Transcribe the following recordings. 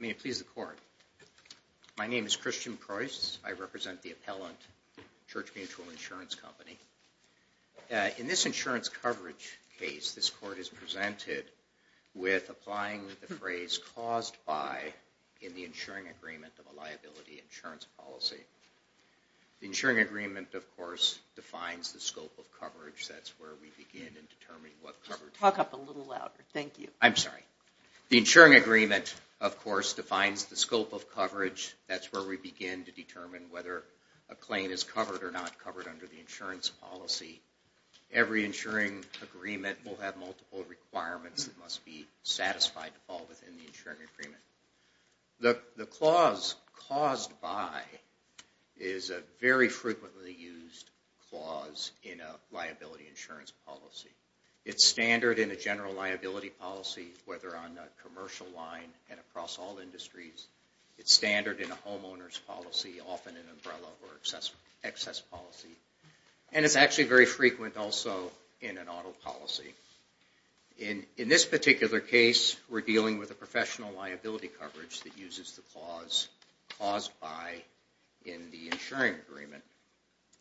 May it please the Court. My name is Christian Preuss. I represent the appellant, Church Mutual Insurance Company. In this insurance coverage case, this Court is presented with applying the phrase caused by in the insuring agreement of a liability insurance policy. The insuring agreement, of course, defines the scope of coverage. That's where we begin in determining what coverage… Talk up a little louder. Thank you. I'm sorry. The insuring agreement, of course, defines the scope of coverage. That's where we begin to determine whether a claim is covered or not covered under the insurance policy. Every insuring agreement will have multiple requirements that must be satisfied all within the insuring agreement. The clause caused by is a very frequently used clause in a liability insurance policy. It's standard in a general liability policy, whether on a commercial line and across all industries. It's standard in a homeowner's policy, often an umbrella or excess policy. And it's actually very frequent also in an auto policy. In this particular case, we're dealing with a professional liability coverage that uses the clause caused by in the insuring agreement.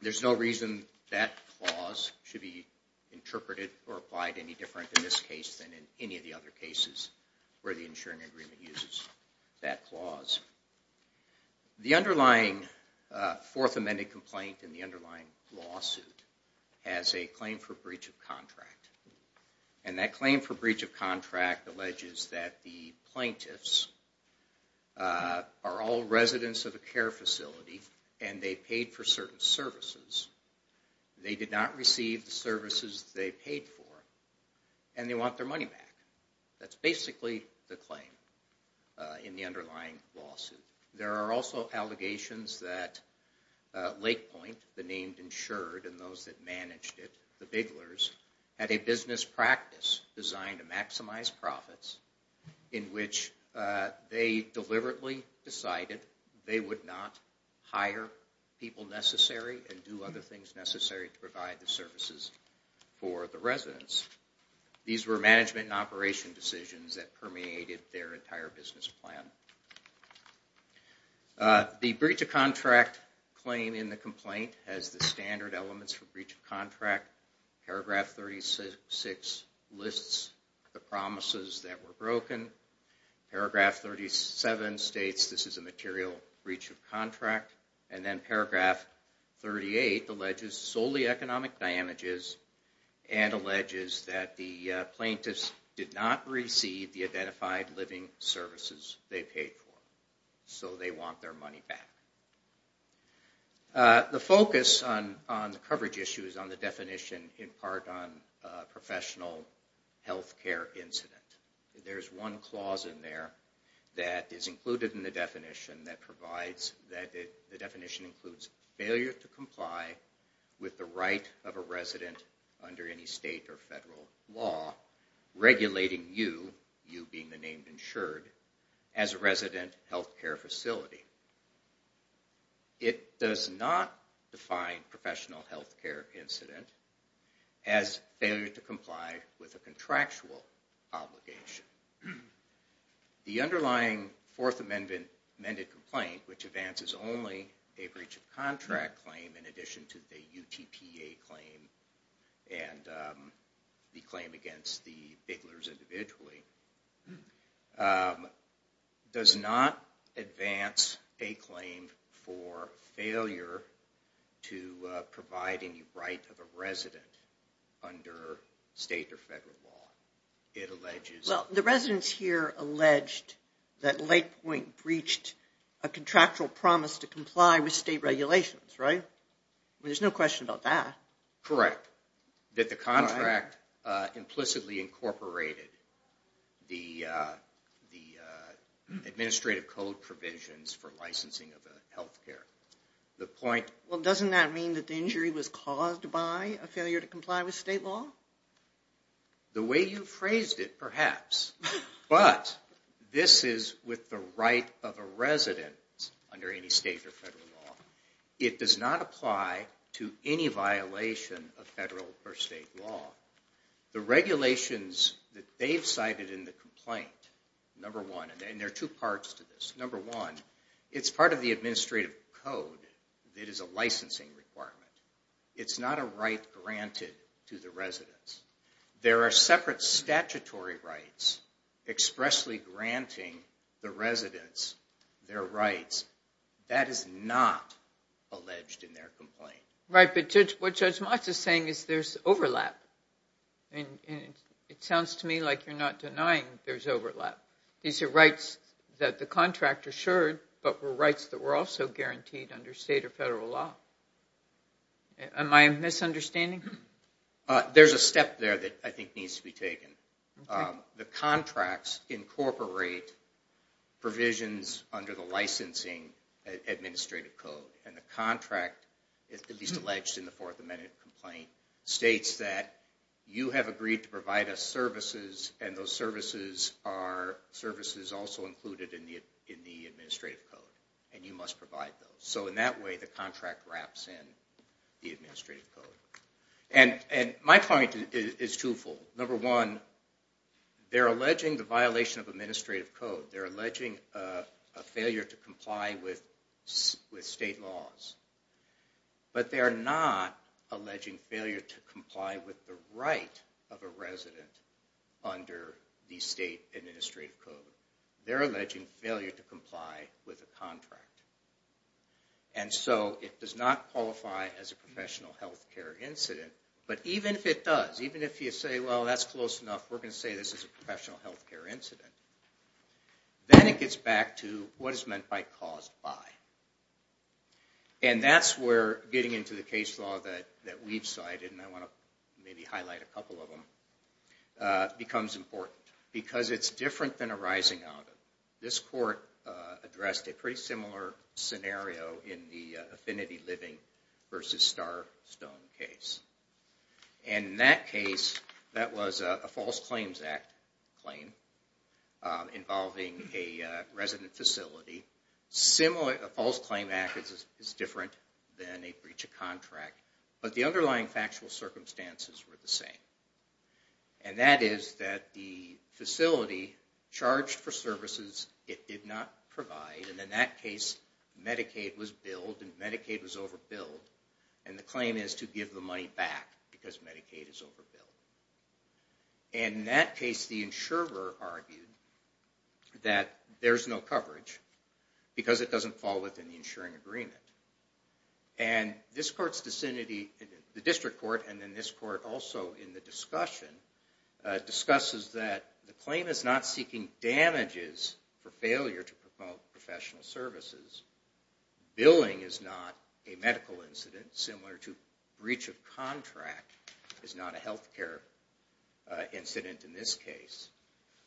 There's no reason that clause should be interpreted or applied any different in this case than in any of the other cases where the insuring agreement uses that clause. The underlying fourth amended complaint in the underlying lawsuit has a claim for breach of contract. And that claim for breach of contract alleges that the plaintiffs are all residents of a care facility and they paid for certain services. They did not receive the services they paid for and they want their money back. That's basically the claim in the underlying lawsuit. There are also allegations that Lake Point, the name insured and those that managed it, the Biglers, had a business practice designed to maximize profits in which they deliberately decided they would not hire people necessary and do other things necessary to provide the services for the residents. These were management and operation decisions that permeated their entire business plan. The breach of contract claim in the complaint has the standard elements for breach of contract. Paragraph 36 lists the promises that were broken. Paragraph 37 states this is a material breach of contract. And then paragraph 38 alleges solely economic damages and alleges that the plaintiffs did not receive the identified living services they paid for. So they want their money back. The focus on the coverage issue is on the definition in part on professional health care incident. There's one clause in there that is included in the definition that provides that the definition includes failure to comply with the right of a resident under any state or federal law regulating you, you being the name insured, as a resident health care facility. It does not define professional health care incident as failure to comply with a contractual obligation. The underlying Fourth Amendment amended complaint, which advances only a breach of contract claim in addition to the UTPA claim and the claim against the Biglers individually, does not advance a claim for failure to provide any right of a resident under state or federal law. The residents here alleged that Lake Point breached a contractual promise to comply with state regulations, right? There's no question about that. Correct. That the contract implicitly incorporated the administrative code provisions for licensing of the health care. Well, doesn't that mean that the injury was caused by a failure to comply with state law? The way you phrased it, perhaps. But this is with the right of a resident under any state or federal law. It does not apply to any violation of federal or state law. The regulations that they've cited in the complaint, number one, and there are two parts to this. Number one, it's part of the administrative code. It is a licensing requirement. It's not a right granted to the residents. There are separate statutory rights expressly granting the residents their rights. That is not alleged in their complaint. Right, but what Judge Motz is saying is there's overlap. It sounds to me like you're not denying there's overlap. These are rights that the contract assured, but were rights that were also guaranteed under state or federal law. Am I misunderstanding? There's a step there that I think needs to be taken. The contracts incorporate provisions under the licensing administrative code. The contract, at least alleged in the Fourth Amendment complaint, states that you have agreed to provide us services, and those services are services also included in the administrative code, and you must provide those. In that way, the contract wraps in the administrative code. My point is twofold. Number one, they're alleging the violation of administrative code. They're alleging a failure to comply with state laws, but they're not alleging failure to comply with the right of a resident under the state administrative code. They're alleging failure to comply with a contract. It does not qualify as a professional health care incident, but even if it does, even if you say, well, that's close enough. We're going to say this is a professional health care incident. Then it gets back to what is meant by caused by, and that's where getting into the case law that we've cited, and I want to maybe highlight a couple of them, becomes important because it's different than a rising out of. This court addressed a pretty similar scenario in the Affinity Living versus Star Stone case. In that case, that was a false claims act claim involving a resident facility. A false claim act is different than a breach of contract, but the underlying factual circumstances were the same, and that is that the facility charged for services it did not provide, and in that case, Medicaid was billed and Medicaid was overbilled, and the claim is to give the money back because Medicaid is overbilled. In that case, the insurer argued that there's no coverage because it doesn't fall within the insuring agreement. This court's vicinity, the district court, and then this court also in the discussion, discusses that the claim is not seeking damages for failure to promote professional services. Billing is not a medical incident, similar to breach of contract is not a health care incident in this case.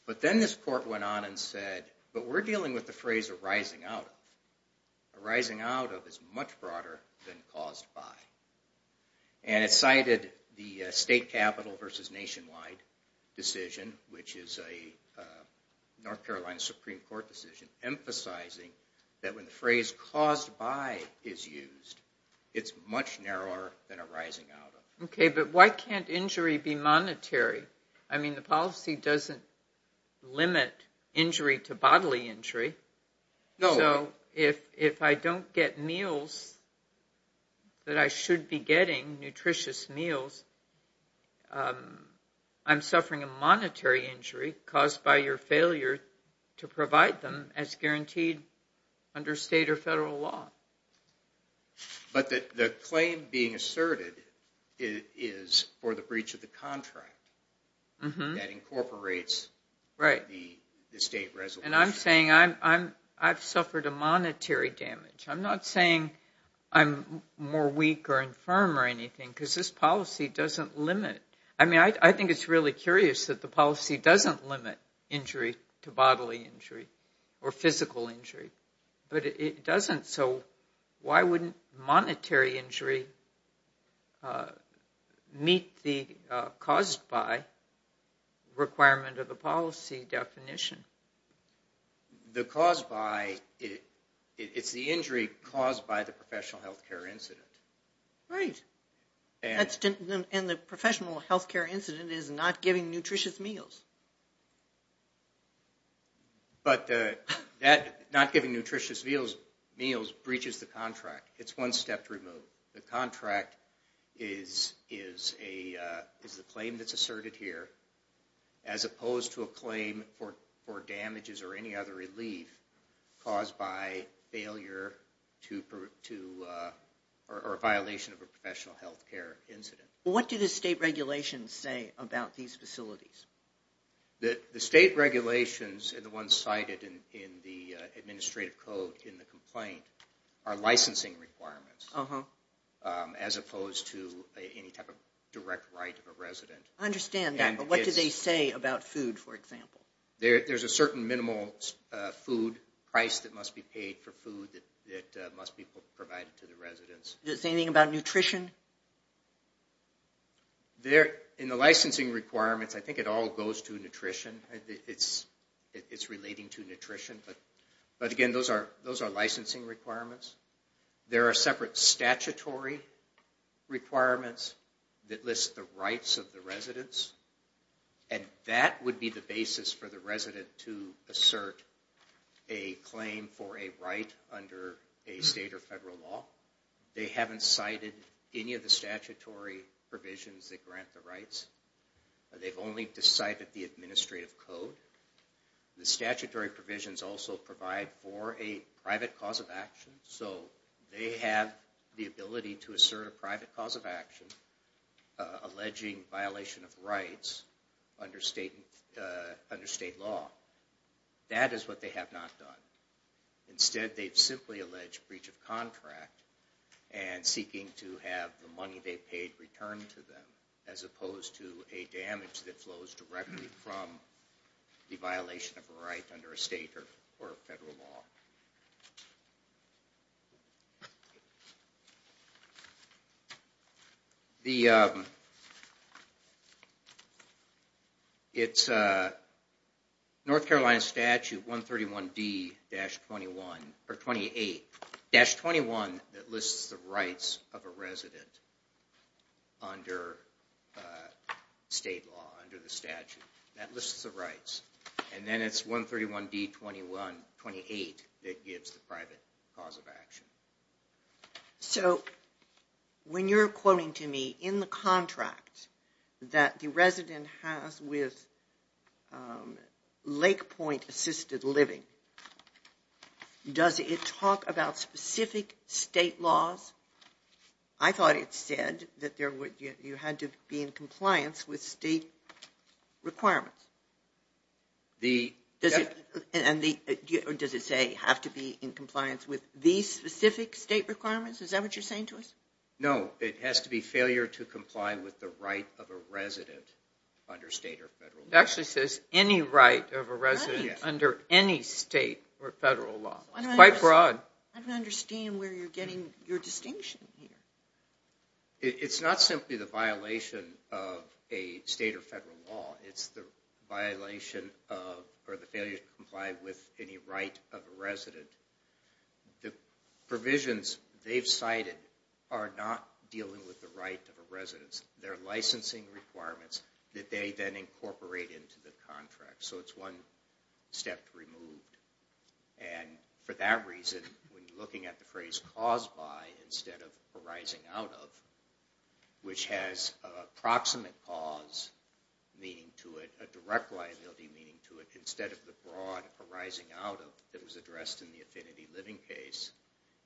But then this court went on and said, but we're dealing with the phrase a rising out of. A rising out of is much broader than caused by. And it cited the state capital versus nationwide decision, which is a North Carolina Supreme Court decision, emphasizing that when the phrase caused by is used, it's much narrower than a rising out of. Okay, but why can't injury be monetary? I mean, the policy doesn't limit injury to bodily injury. So if I don't get meals that I should be getting, nutritious meals, I'm suffering a monetary injury caused by your failure to provide them as guaranteed under state or federal law. But the claim being asserted is for the breach of the contract that incorporates the state resolution. And I'm saying I've suffered a monetary damage. I'm not saying I'm more weak or infirm or anything because this policy doesn't limit. I mean, I think it's really curious that the policy doesn't limit injury to bodily injury or physical injury, but it doesn't. So why wouldn't monetary injury meet the caused by requirement of the policy definition? The caused by, it's the injury caused by the professional health care incident. Right. And the professional health care incident is not giving nutritious meals. But not giving nutritious meals breaches the contract. It's one step to remove. The contract is the claim that's asserted here as opposed to a claim for damages or any other relief caused by failure to, or a violation of a professional health care incident. What do the state regulations say about these facilities? The state regulations and the ones cited in the administrative code in the complaint are licensing requirements as opposed to any type of direct right of a resident. I understand that, but what do they say about food, for example? There's a certain minimal food price that must be paid for food that must be provided to the residents. Does it say anything about nutrition? In the licensing requirements, I think it all goes to nutrition. It's relating to nutrition, but again, those are licensing requirements. There are separate statutory requirements that list the rights of the residents. And that would be the basis for the resident to assert a claim for a right under a state or federal law. They haven't cited any of the statutory provisions that grant the rights. They've only decided the administrative code. The statutory provisions also provide for a private cause of action. So they have the ability to assert a private cause of action, alleging violation of rights under state law. That is what they have not done. Instead, they've simply alleged breach of contract and seeking to have the money they paid returned to them as opposed to a damage that flows directly from the violation of a right under a state or federal law. The... It's North Carolina Statute 131D-28-21 that lists the rights of a resident under state law, under the statute. That lists the rights. And then it's 131D-28 that gives the private cause of action. So, when you're quoting to me in the contract that the resident has with Lake Point Assisted Living, does it talk about specific state laws? I thought it said that you had to be in compliance with state requirements. Does it say you have to be in compliance with these specific state requirements? Is that what you're saying to us? No, it has to be failure to comply with the right of a resident under state or federal law. It actually says any right of a resident under any state or federal law. It's quite broad. I don't understand where you're getting your distinction here. It's not simply the violation of a state or federal law. It's the violation of or the failure to comply with any right of a resident. The provisions they've cited are not dealing with the right of a resident. They're licensing requirements that they then incorporate into the contract. So, it's one step removed. And for that reason, when you're looking at the phrase caused by instead of arising out of, which has a proximate cause meaning to it, a direct liability meaning to it, instead of the broad arising out of that was addressed in the Affinity Living case,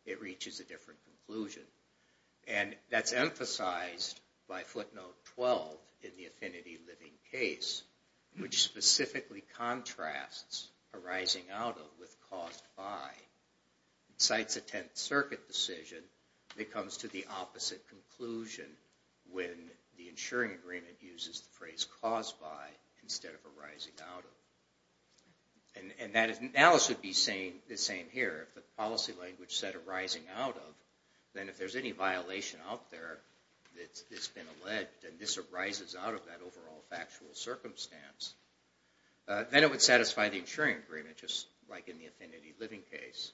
it reaches a different conclusion. And that's emphasized by footnote 12 in the Affinity Living case, which specifically contrasts arising out of with caused by. Cites a Tenth Circuit decision that comes to the opposite conclusion when the insuring agreement uses the phrase caused by instead of arising out of. And Alice would be saying the same here. If the policy language said arising out of, then if there's any violation out there that's been alleged, and this arises out of that overall factual circumstance, then it would satisfy the insuring agreement, just like in the Affinity Living case.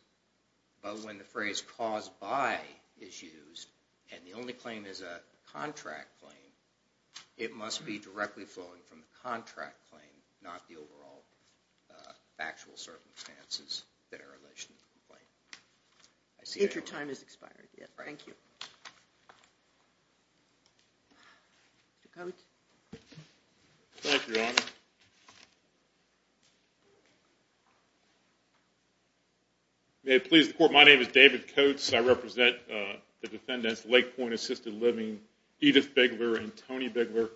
But when the phrase caused by is used, and the only claim is a contract claim, it must be directly flowing from the contract claim, not the overall factual circumstances that are alleged in the complaint. If your time has expired, yes. Thank you. Mr. Coates. Thank you, Your Honor. May it please the Court, my name is David Coates. I represent the defendants, Lake Point Assisted Living, Edith Bigler and Tony Bigler.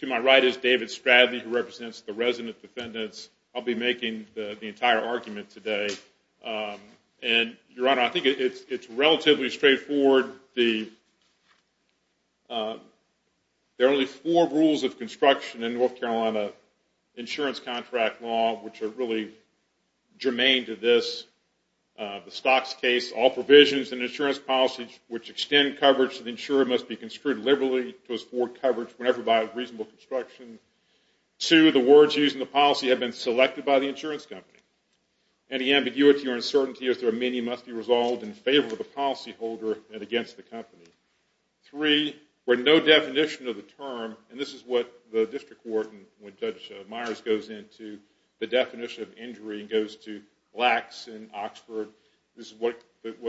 To my right is David Stradley, who represents the resident defendants. I'll be making the entire argument today. And, Your Honor, I think it's relatively straightforward There are only four rules of construction in North Carolina insurance contract law, which are really germane to this. The stocks case, all provisions and insurance policies, which extend coverage to the insurer, must be construed liberally to afford coverage whenever by a reasonable construction. Two, the words used in the policy have been selected by the insurance company. Any ambiguity or uncertainty, as there are many, must be resolved in favor of the policyholder and against the company. Three, where no definition of the term, and this is what the district court, when Judge Myers goes into the definition of injury, and goes to Lacks in Oxford, this is what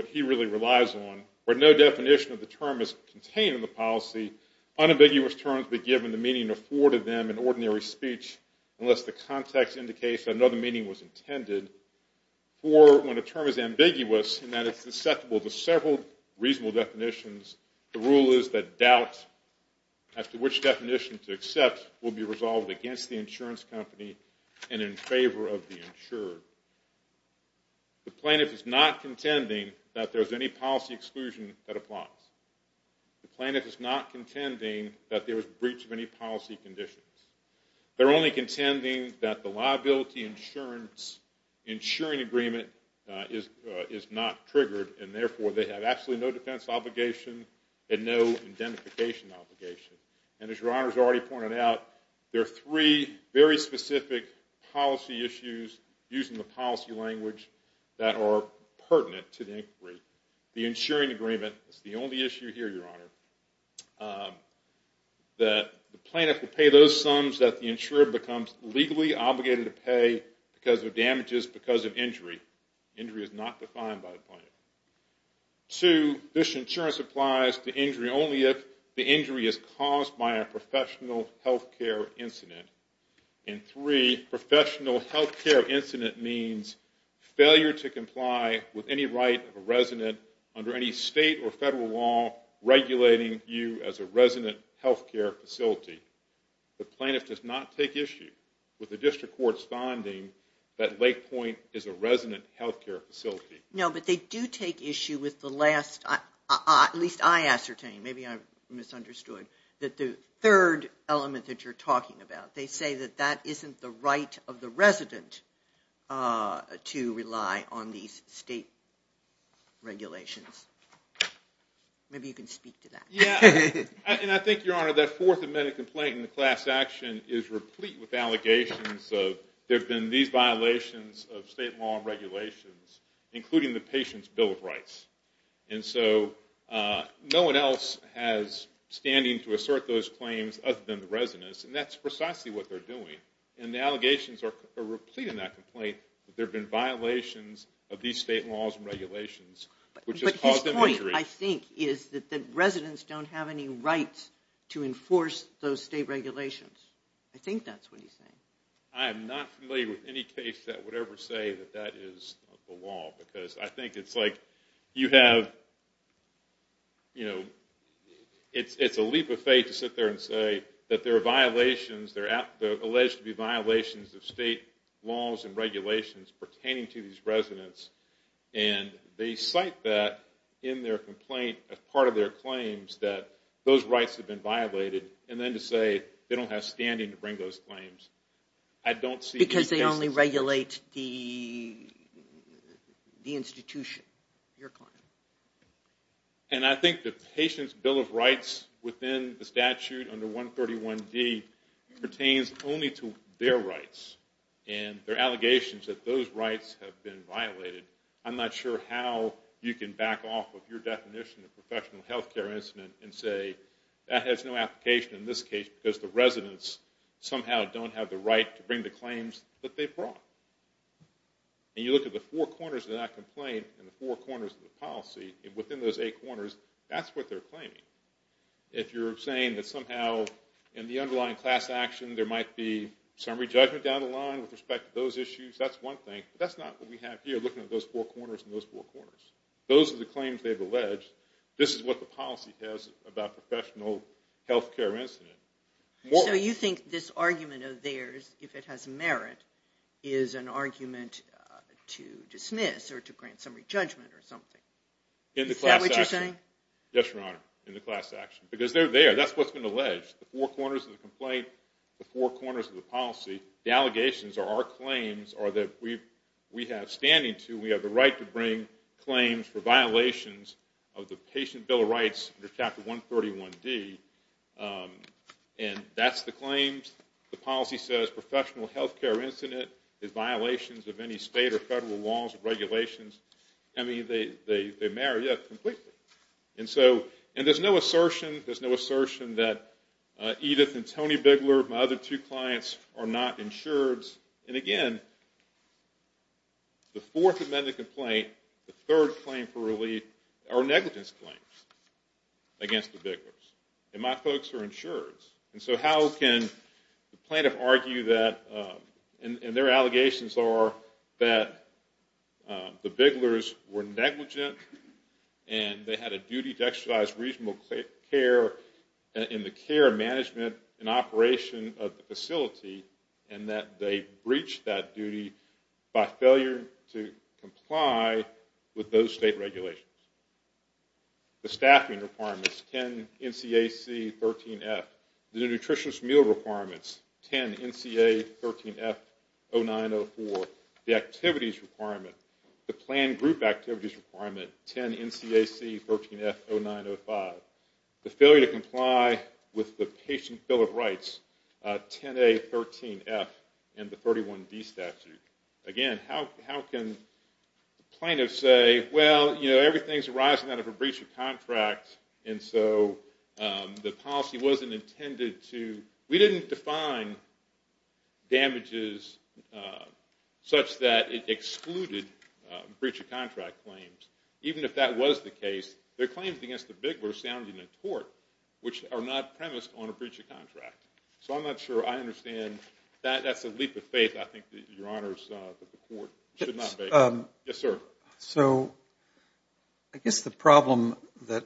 he really relies on. Where no definition of the term is contained in the policy, unambiguous terms be given the meaning afforded them in ordinary speech, unless the context indicates that another meaning was intended. Four, when a term is ambiguous in that it's susceptible to several reasonable definitions, the rule is that doubt as to which definition to accept will be resolved against the insurance company and in favor of the insured. The plaintiff is not contending that there's any policy exclusion that applies. The plaintiff is not contending that there is breach of any policy conditions. They're only contending that the liability insurance, insuring agreement, is not triggered and therefore they have absolutely no defense obligation and no identification obligation. And as Your Honor has already pointed out, there are three very specific policy issues, used in the policy language, that are pertinent to the inquiry. The insuring agreement is the only issue here, Your Honor. The plaintiff will pay those sums that the insurer becomes legally obligated to pay because of damages because of injury. Injury is not defined by the plaintiff. Two, this insurance applies to injury only if the injury is caused by a professional health care incident. And three, professional health care incident means failure to comply with any right of a resident under any state or federal law regulating you as a resident health care facility. The plaintiff does not take issue with the district court's finding that Lake Point is a resident health care facility. No, but they do take issue with the last, at least I ascertain, maybe I've misunderstood, that the third element that you're talking about, they say that that isn't the right of the resident to rely on these state regulations. Maybe you can speak to that. Yeah, and I think, Your Honor, that fourth amendment complaint in the class action is replete with allegations of there have been these violations of state law and regulations, including the patient's bill of rights. And so no one else has standing to assert those claims other than the residents, and that's precisely what they're doing. And the allegations are complete in that complaint, that there have been violations of these state laws and regulations, which has caused them injury. But his point, I think, is that the residents don't have any right to enforce those state regulations. I think that's what he's saying. I am not familiar with any case that would ever say that that is the law, because I think it's like you have, you know, it's a leap of faith to sit there and say that there are violations, there are alleged to be violations of state laws and regulations pertaining to these residents. And they cite that in their complaint as part of their claims, that those rights have been violated, and then to say they don't have standing to bring those claims. I don't see... Because they only regulate the institution, your client. And I think the patient's bill of rights within the statute under 131D pertains only to their rights, and their allegations that those rights have been violated. I'm not sure how you can back off of your definition of professional health care incident and say that has no application in this case, because the residents somehow don't have the right to bring the claims that they brought. And you look at the four corners of that complaint and the four corners of the policy, and within those eight corners, that's what they're claiming. If you're saying that somehow in the underlying class action there might be summary judgment down the line with respect to those issues, that's one thing. But that's not what we have here, looking at those four corners and those four corners. Those are the claims they've alleged. This is what the policy says about professional health care incident. So you think this argument of theirs, if it has merit, is an argument to dismiss or to grant summary judgment or something. Is that what you're saying? Yes, Your Honor, in the class action. Because they're there. That's what's been alleged. The four corners of the complaint, the four corners of the policy, the allegations or our claims are that we have standing to, we have the right to bring claims for violations of the Patient Bill of Rights under Chapter 131D. And that's the claims. The policy says professional health care incident is violations of any state or federal laws or regulations. I mean, they merit it completely. And so, and there's no assertion, there's no assertion that Edith and Tony Bigler, my other two clients, are not insureds. And again, the Fourth Amendment complaint, the third claim for relief, are negligence claims against the Biglers. And my folks are insureds. And so how can the plaintiff argue that, and their allegations are that the Biglers were negligent and they had a duty to exercise reasonable care in the care management and operation of the facility and that they breached that duty by failure to comply with those state regulations? The staffing requirements, 10 NCAC 13F. The nutritious meal requirements, 10 NCA 13F 0904. The activities requirement, the planned group activities requirement, 10 NCAC 13F 0905. The failure to comply with the patient bill of rights, 10A 13F and the 31B statute. Again, how can plaintiffs say, well, you know, everything's arising out of a breach of contract and so the policy wasn't intended to, we didn't define damages such that it excluded breach of contract claims. Even if that was the case, their claims against the Biglers sounded in a court, which are not premised on a breach of contract. So I'm not sure I understand. That's a leap of faith, I think, that Your Honors, that the court should not make. Yes, sir. So I guess the problem that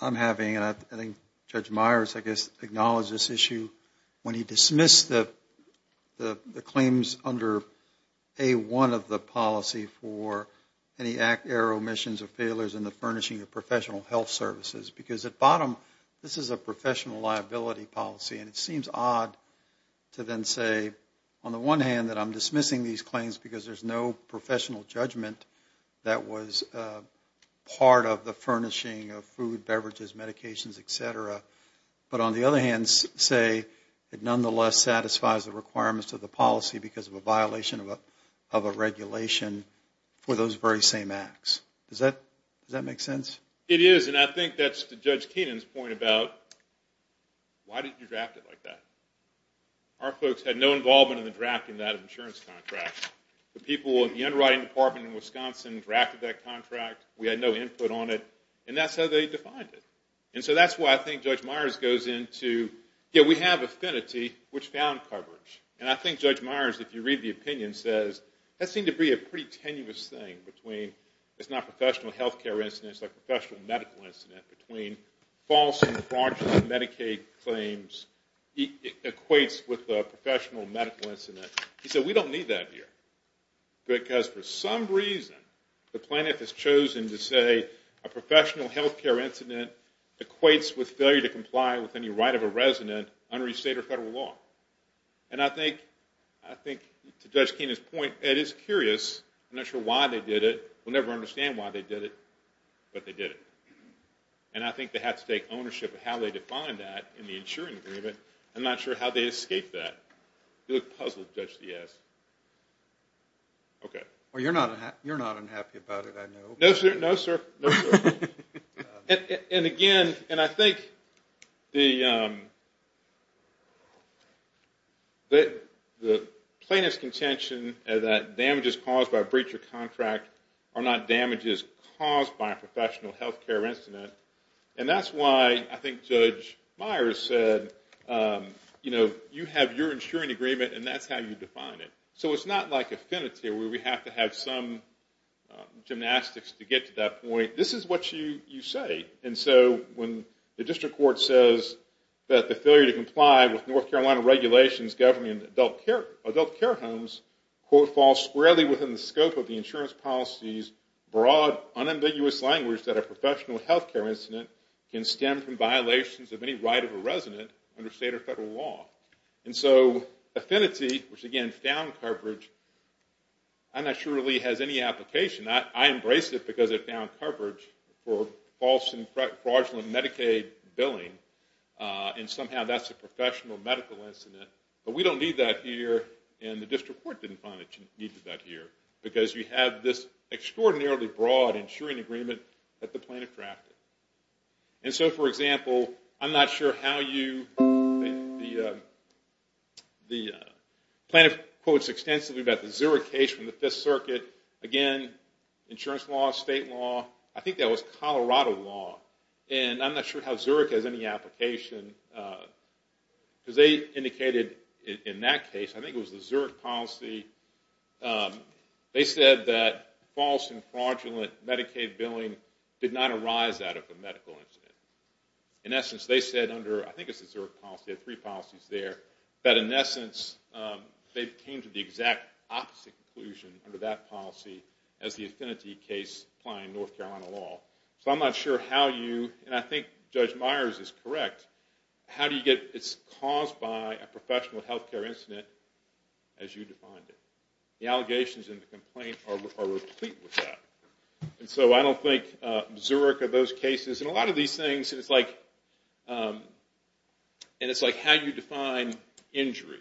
I'm having, and I think Judge Myers, I guess, acknowledged this issue when he dismissed the claims under A1 of the policy for any error, omissions, or failures in the furnishing of professional health services. Because at bottom, this is a professional liability policy, and it seems odd to then say, on the one hand, that I'm dismissing these claims because there's no professional judgment that was part of the furnishing of food, beverages, medications, et cetera. But on the other hand, say it nonetheless satisfies the requirements of the policy because of a violation of a regulation for those very same acts. Does that make sense? It is, and I think that's Judge Keenan's point about, why did you draft it like that? Our folks had no involvement in the drafting of that insurance contract. The people in the underwriting department in Wisconsin drafted that contract. We had no input on it. And that's how they defined it. And so that's why I think Judge Myers goes into, yeah, we have affinity, which found coverage. And I think Judge Myers, if you read the opinion, says that seemed to be a pretty tenuous thing between it's not a professional health care incident, it's a professional medical incident, between false and fraudulent Medicaid claims equates with a professional medical incident. He said, we don't need that here. Because for some reason, the plaintiff has chosen to say a professional health care incident equates with failure to comply with any right of a resident under state or federal law. And I think, to Judge Keenan's point, it is curious. I'm not sure why they did it. We'll never understand why they did it, but they did it. And I think they had to take ownership of how they defined that in the insuring agreement. I'm not sure how they escaped that. You look puzzled, Judge Diaz. Okay. Well, you're not unhappy about it, I know. No, sir. No, sir. And again, and I think the plaintiff's contention that damage is caused by a breach of contract are not damages caused by a professional health care incident. And that's why I think Judge Myers said, you know, you have your insuring agreement and that's how you define it. So it's not like affinity where we have to have some gymnastics to get to that point. This is what you say. And so when the district court says that the failure to comply with North Carolina regulations governing adult care homes, quote, within the scope of the insurance policy's broad, unambiguous language that a professional health care incident can stem from violations of any right of a resident under state or federal law. And so affinity, which again found coverage, I'm not sure really has any application. I embrace it because it found coverage for false and fraudulent Medicaid billing. And somehow that's a professional medical incident. But we don't need that here and the district court didn't find it needed that here because you have this extraordinarily broad insuring agreement that the plaintiff drafted. And so, for example, I'm not sure how you, the plaintiff quotes extensively about the Zurich case from the Fifth Circuit. Again, insurance law, state law, I think that was Colorado law. And I'm not sure how Zurich has any application because they indicated in that case, I think it was the Zurich policy, they said that false and fraudulent Medicaid billing did not arise out of a medical incident. In essence, they said under, I think it's the Zurich policy, they had three policies there, that in essence they came to the exact opposite conclusion under that policy as the affinity case applying North Carolina law. So I'm not sure how you, and I think Judge Myers is correct, how do you get it's caused by a professional health care incident as you defined it. The allegations in the complaint are replete with that. And so I don't think Zurich or those cases, and a lot of these things, and it's like how you define injury.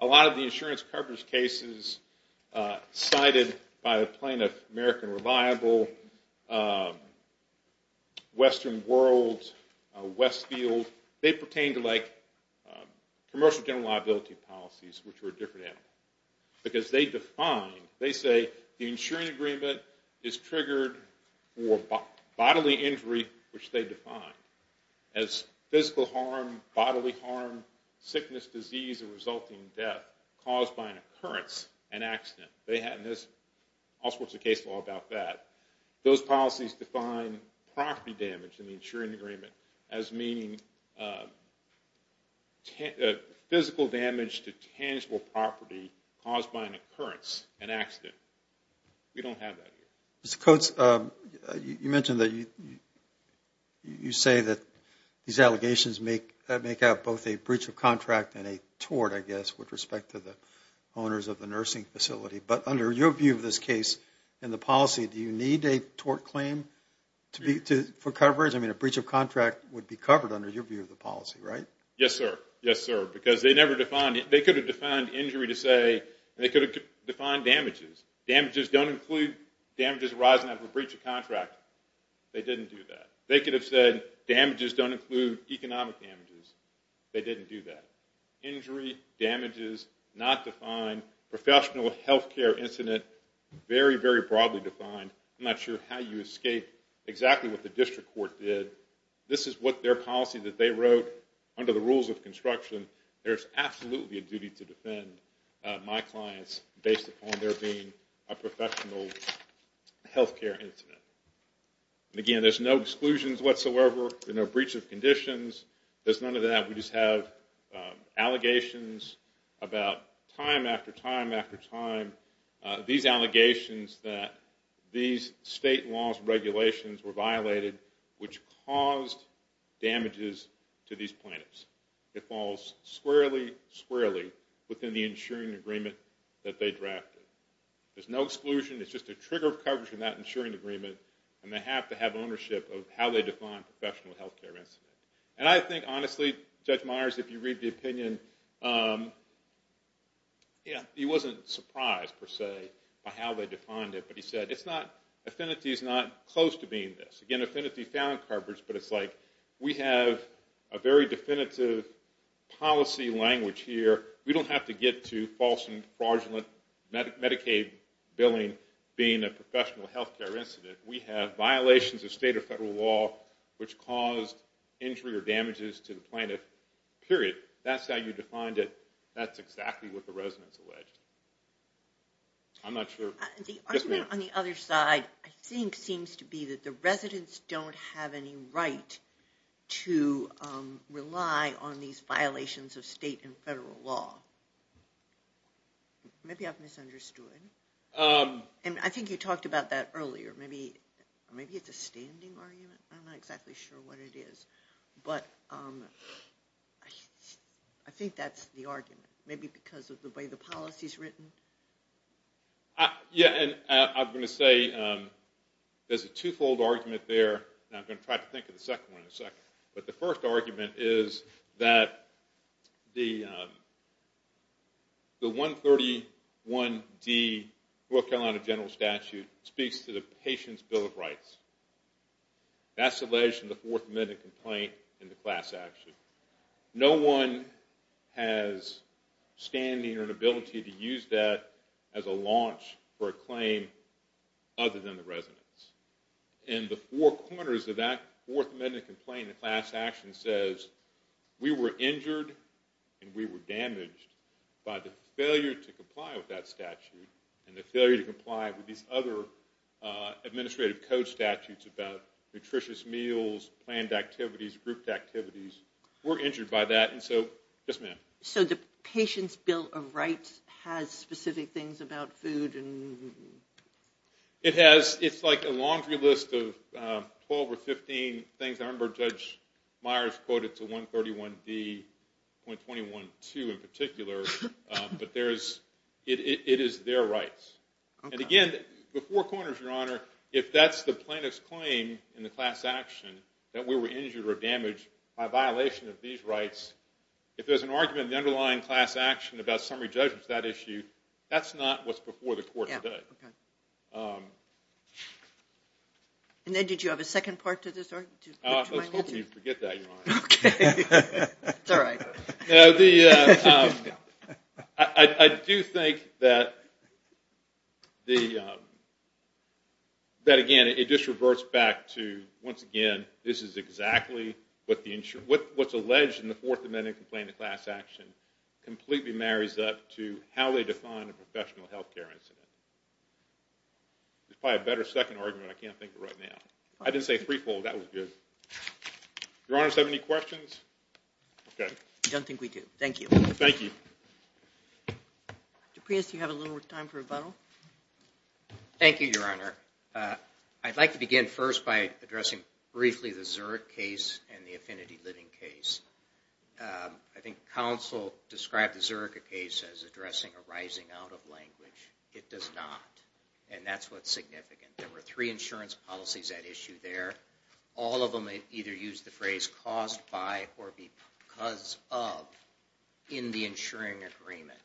A lot of the insurance coverage cases cited by the plaintiff, American Revival, Western World, Westfield, they pertain to like commercial general liability policies, which were a different animal. Because they define, they say the insurance agreement is triggered for bodily injury, which they define as physical harm, bodily harm, sickness, disease, and resulting death caused by an occurrence, an accident. They had all sorts of case law about that. Those policies define property damage in the insurance agreement as meaning physical damage to tangible property caused by an occurrence, an accident. We don't have that here. Mr. Coates, you mentioned that you say that these allegations make up both a breach of contract and a tort, I guess, with respect to the owners of the nursing facility. But under your view of this case and the policy, do you need a tort claim for coverage? I mean, a breach of contract would be covered under your view of the policy, right? Yes, sir. Yes, sir. Because they never defined it. They could have defined injury to say, and they could have defined damages. Damages don't include damages arising out of a breach of contract. They didn't do that. They could have said damages don't include economic damages. They didn't do that. Injury, damages, not defined. Professional health care incident, very, very broadly defined. I'm not sure how you escape exactly what the district court did. This is what their policy that they wrote under the rules of construction. There's absolutely a duty to defend my clients based upon there being a professional health care incident. Again, there's no exclusions whatsoever. There's no breach of conditions. There's none of that. We just have allegations about time after time after time. These allegations that these state laws and regulations were violated, which caused damages to these plaintiffs. It falls squarely, squarely within the insuring agreement that they drafted. There's no exclusion. It's just a trigger of coverage in that insuring agreement, and they have to have ownership of how they define professional health care incident. And I think, honestly, Judge Myers, if you read the opinion, he wasn't surprised, per se, by how they defined it. But he said, it's not, affinity is not close to being this. Again, affinity found coverage, but it's like, we have a very definitive policy language here. We don't have to get to false and fraudulent Medicaid billing being a professional health care incident. We have violations of state or federal law which caused injury or damages to the plaintiff, period. That's how you defined it. That's exactly what the residents alleged. I'm not sure. The argument on the other side, I think, seems to be that the residents don't have any right to rely on these violations of state and federal law. Maybe I've misunderstood. And I think you talked about that earlier. Maybe it's a standing argument. I'm not exactly sure what it is. But I think that's the argument, maybe because of the way the policy is written. Yeah, and I'm going to say there's a two-fold argument there. And I'm going to try to think of the second one in a second. But the first argument is that the 131D North Carolina general statute speaks to the patient's bill of rights. That's alleged in the Fourth Amendment complaint in the class action. No one has standing or an ability to use that as a launch for a claim other than the residents. In the four corners of that Fourth Amendment complaint, the class action says, we were injured and we were damaged by the failure to comply with that statute and the failure to comply with these other administrative code statutes about nutritious meals, planned activities, grouped activities. We're injured by that. Yes, ma'am. So the patient's bill of rights has specific things about food? It has. It's like a laundry list of 12 or 15 things. I remember Judge Myers quoted to 131D.21.2 in particular. But it is their rights. And again, the four corners, Your Honor, if that's the plaintiff's claim in the class action, that we were injured or damaged by violation of these rights, if there's an argument in the underlying class action about summary judgment for that issue, that's not what's before the court today. And then did you have a second part to this? Let's hope you forget that, Your Honor. Okay. It's all right. I do think that, again, it just reverts back to, once again, this is exactly what's alleged in the Fourth Amendment complaint of class action completely marries up to how they define a professional health care incident. There's probably a better second argument I can't think of right now. I didn't say threefold. That was good. Your Honor, does that have any questions? Okay. I don't think we do. Thank you. Thank you. Mr. Prius, do you have a little more time for rebuttal? Thank you, Your Honor. I'd like to begin first by addressing briefly the Zurich case and the Affinity Living case. I think counsel described the Zurich case as addressing a rising out of language. It does not. And that's what's significant. There were three insurance policies at issue there. All of them either used the phrase caused by or because of in the insuring agreement,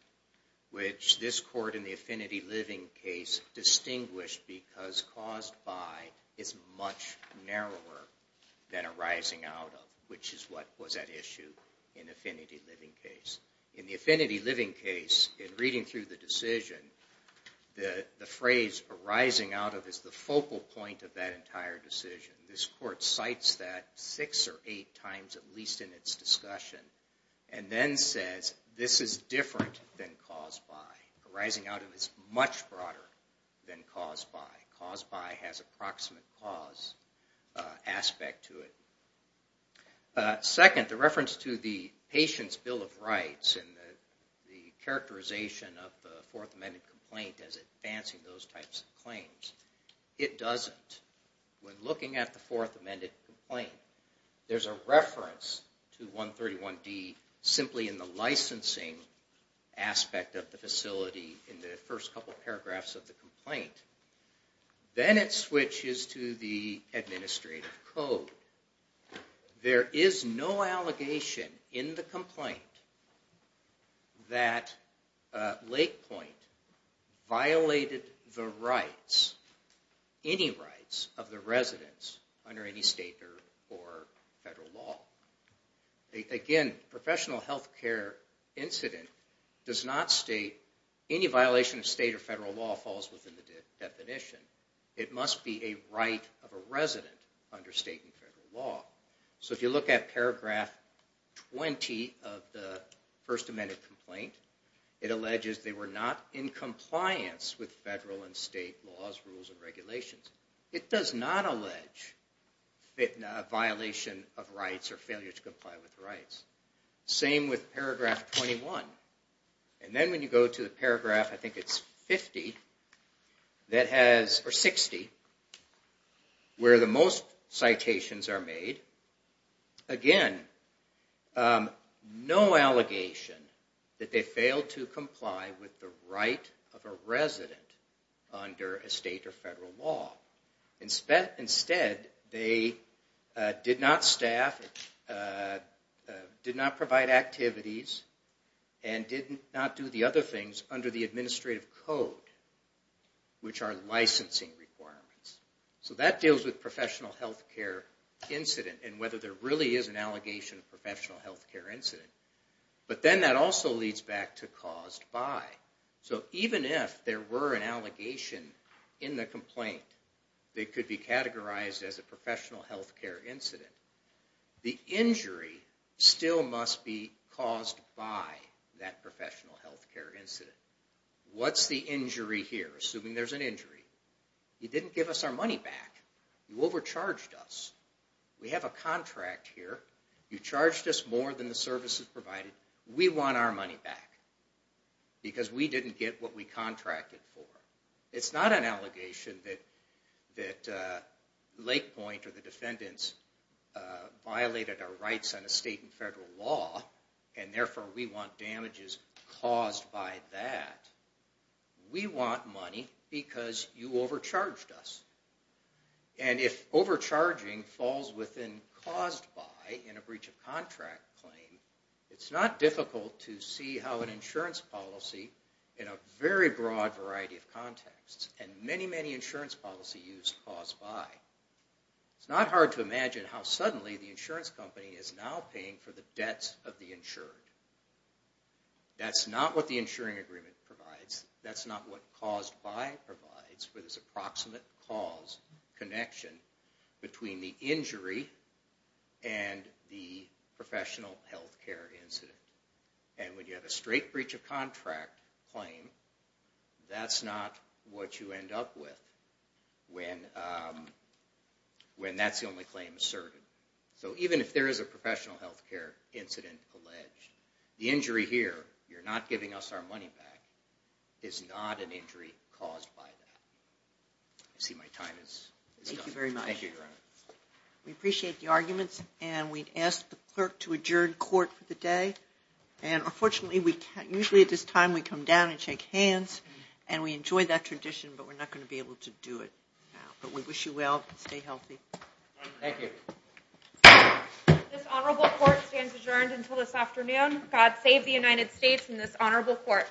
which this court in the Affinity Living case distinguished because caused by is much narrower than a rising out of, which is what was at issue in Affinity Living case. In the Affinity Living case, in reading through the decision, the phrase arising out of is the focal point of that entire decision. This court cites that six or eight times at least in its discussion and then says this is different than caused by. Arising out of is much broader than caused by. Caused by has approximate cause aspect to it. The characterization of the Fourth Amendment complaint as advancing those types of claims, it doesn't. When looking at the Fourth Amendment complaint, there's a reference to 131D simply in the licensing aspect of the facility in the first couple paragraphs of the complaint. Then it switches to the administrative code. There is no allegation in the complaint that Lake Point violated the rights, any rights of the residents under any state or federal law. Again, professional health care incident does not state any violation of state or federal law falls within the definition. It must be a right of a resident under state and federal law. If you look at paragraph 20 of the First Amendment complaint, it alleges they were not in compliance with federal and state laws, rules, and regulations. It does not allege a violation of rights or failure to comply with rights. Same with paragraph 21. And then when you go to the paragraph, I think it's 50, or 60, where the most citations are made. Again, no allegation that they failed to comply with the right of a resident under a state or federal law. Instead, they did not staff, did not provide activities, and did not do the other things under the administrative code, which are licensing requirements. So that deals with professional health care incident and whether there really is an allegation of professional health care incident. But then that also leads back to caused by. So even if there were an allegation in the complaint that could be categorized as a professional health care incident, the injury still must be caused by that professional health care incident. What's the injury here, assuming there's an injury? You didn't give us our money back. You overcharged us. We have a contract here. You charged us more than the services provided. We want our money back because we didn't get what we contracted for. It's not an allegation that Lake Point or the defendants violated our rights under state and federal law, and therefore we want damages caused by that. We want money because you overcharged us. And if overcharging falls within caused by in a breach of contract claim, it's not difficult to see how an insurance policy in a very broad variety of contexts and many, many insurance policies use caused by. It's not hard to imagine how suddenly the insurance company is now paying for the debts of the insured. That's not what the insuring agreement provides. That's not what caused by provides for this approximate cause connection between the injury and the professional health care incident. And when you have a straight breach of contract claim, that's not what you end up with when that's the only claim asserted. So even if there is a professional health care incident alleged, the injury here, you're not giving us our money back, is not an injury caused by that. I see my time is up. Thank you very much. Thank you, Your Honor. We appreciate the arguments, and we'd ask the clerk to adjourn court for the day. And unfortunately, usually at this time we come down and shake hands, and we enjoy that tradition, but we're not going to be able to do it now. But we wish you well. Stay healthy. Thank you. This honorable court stands adjourned until this afternoon. God save the United States and this honorable court.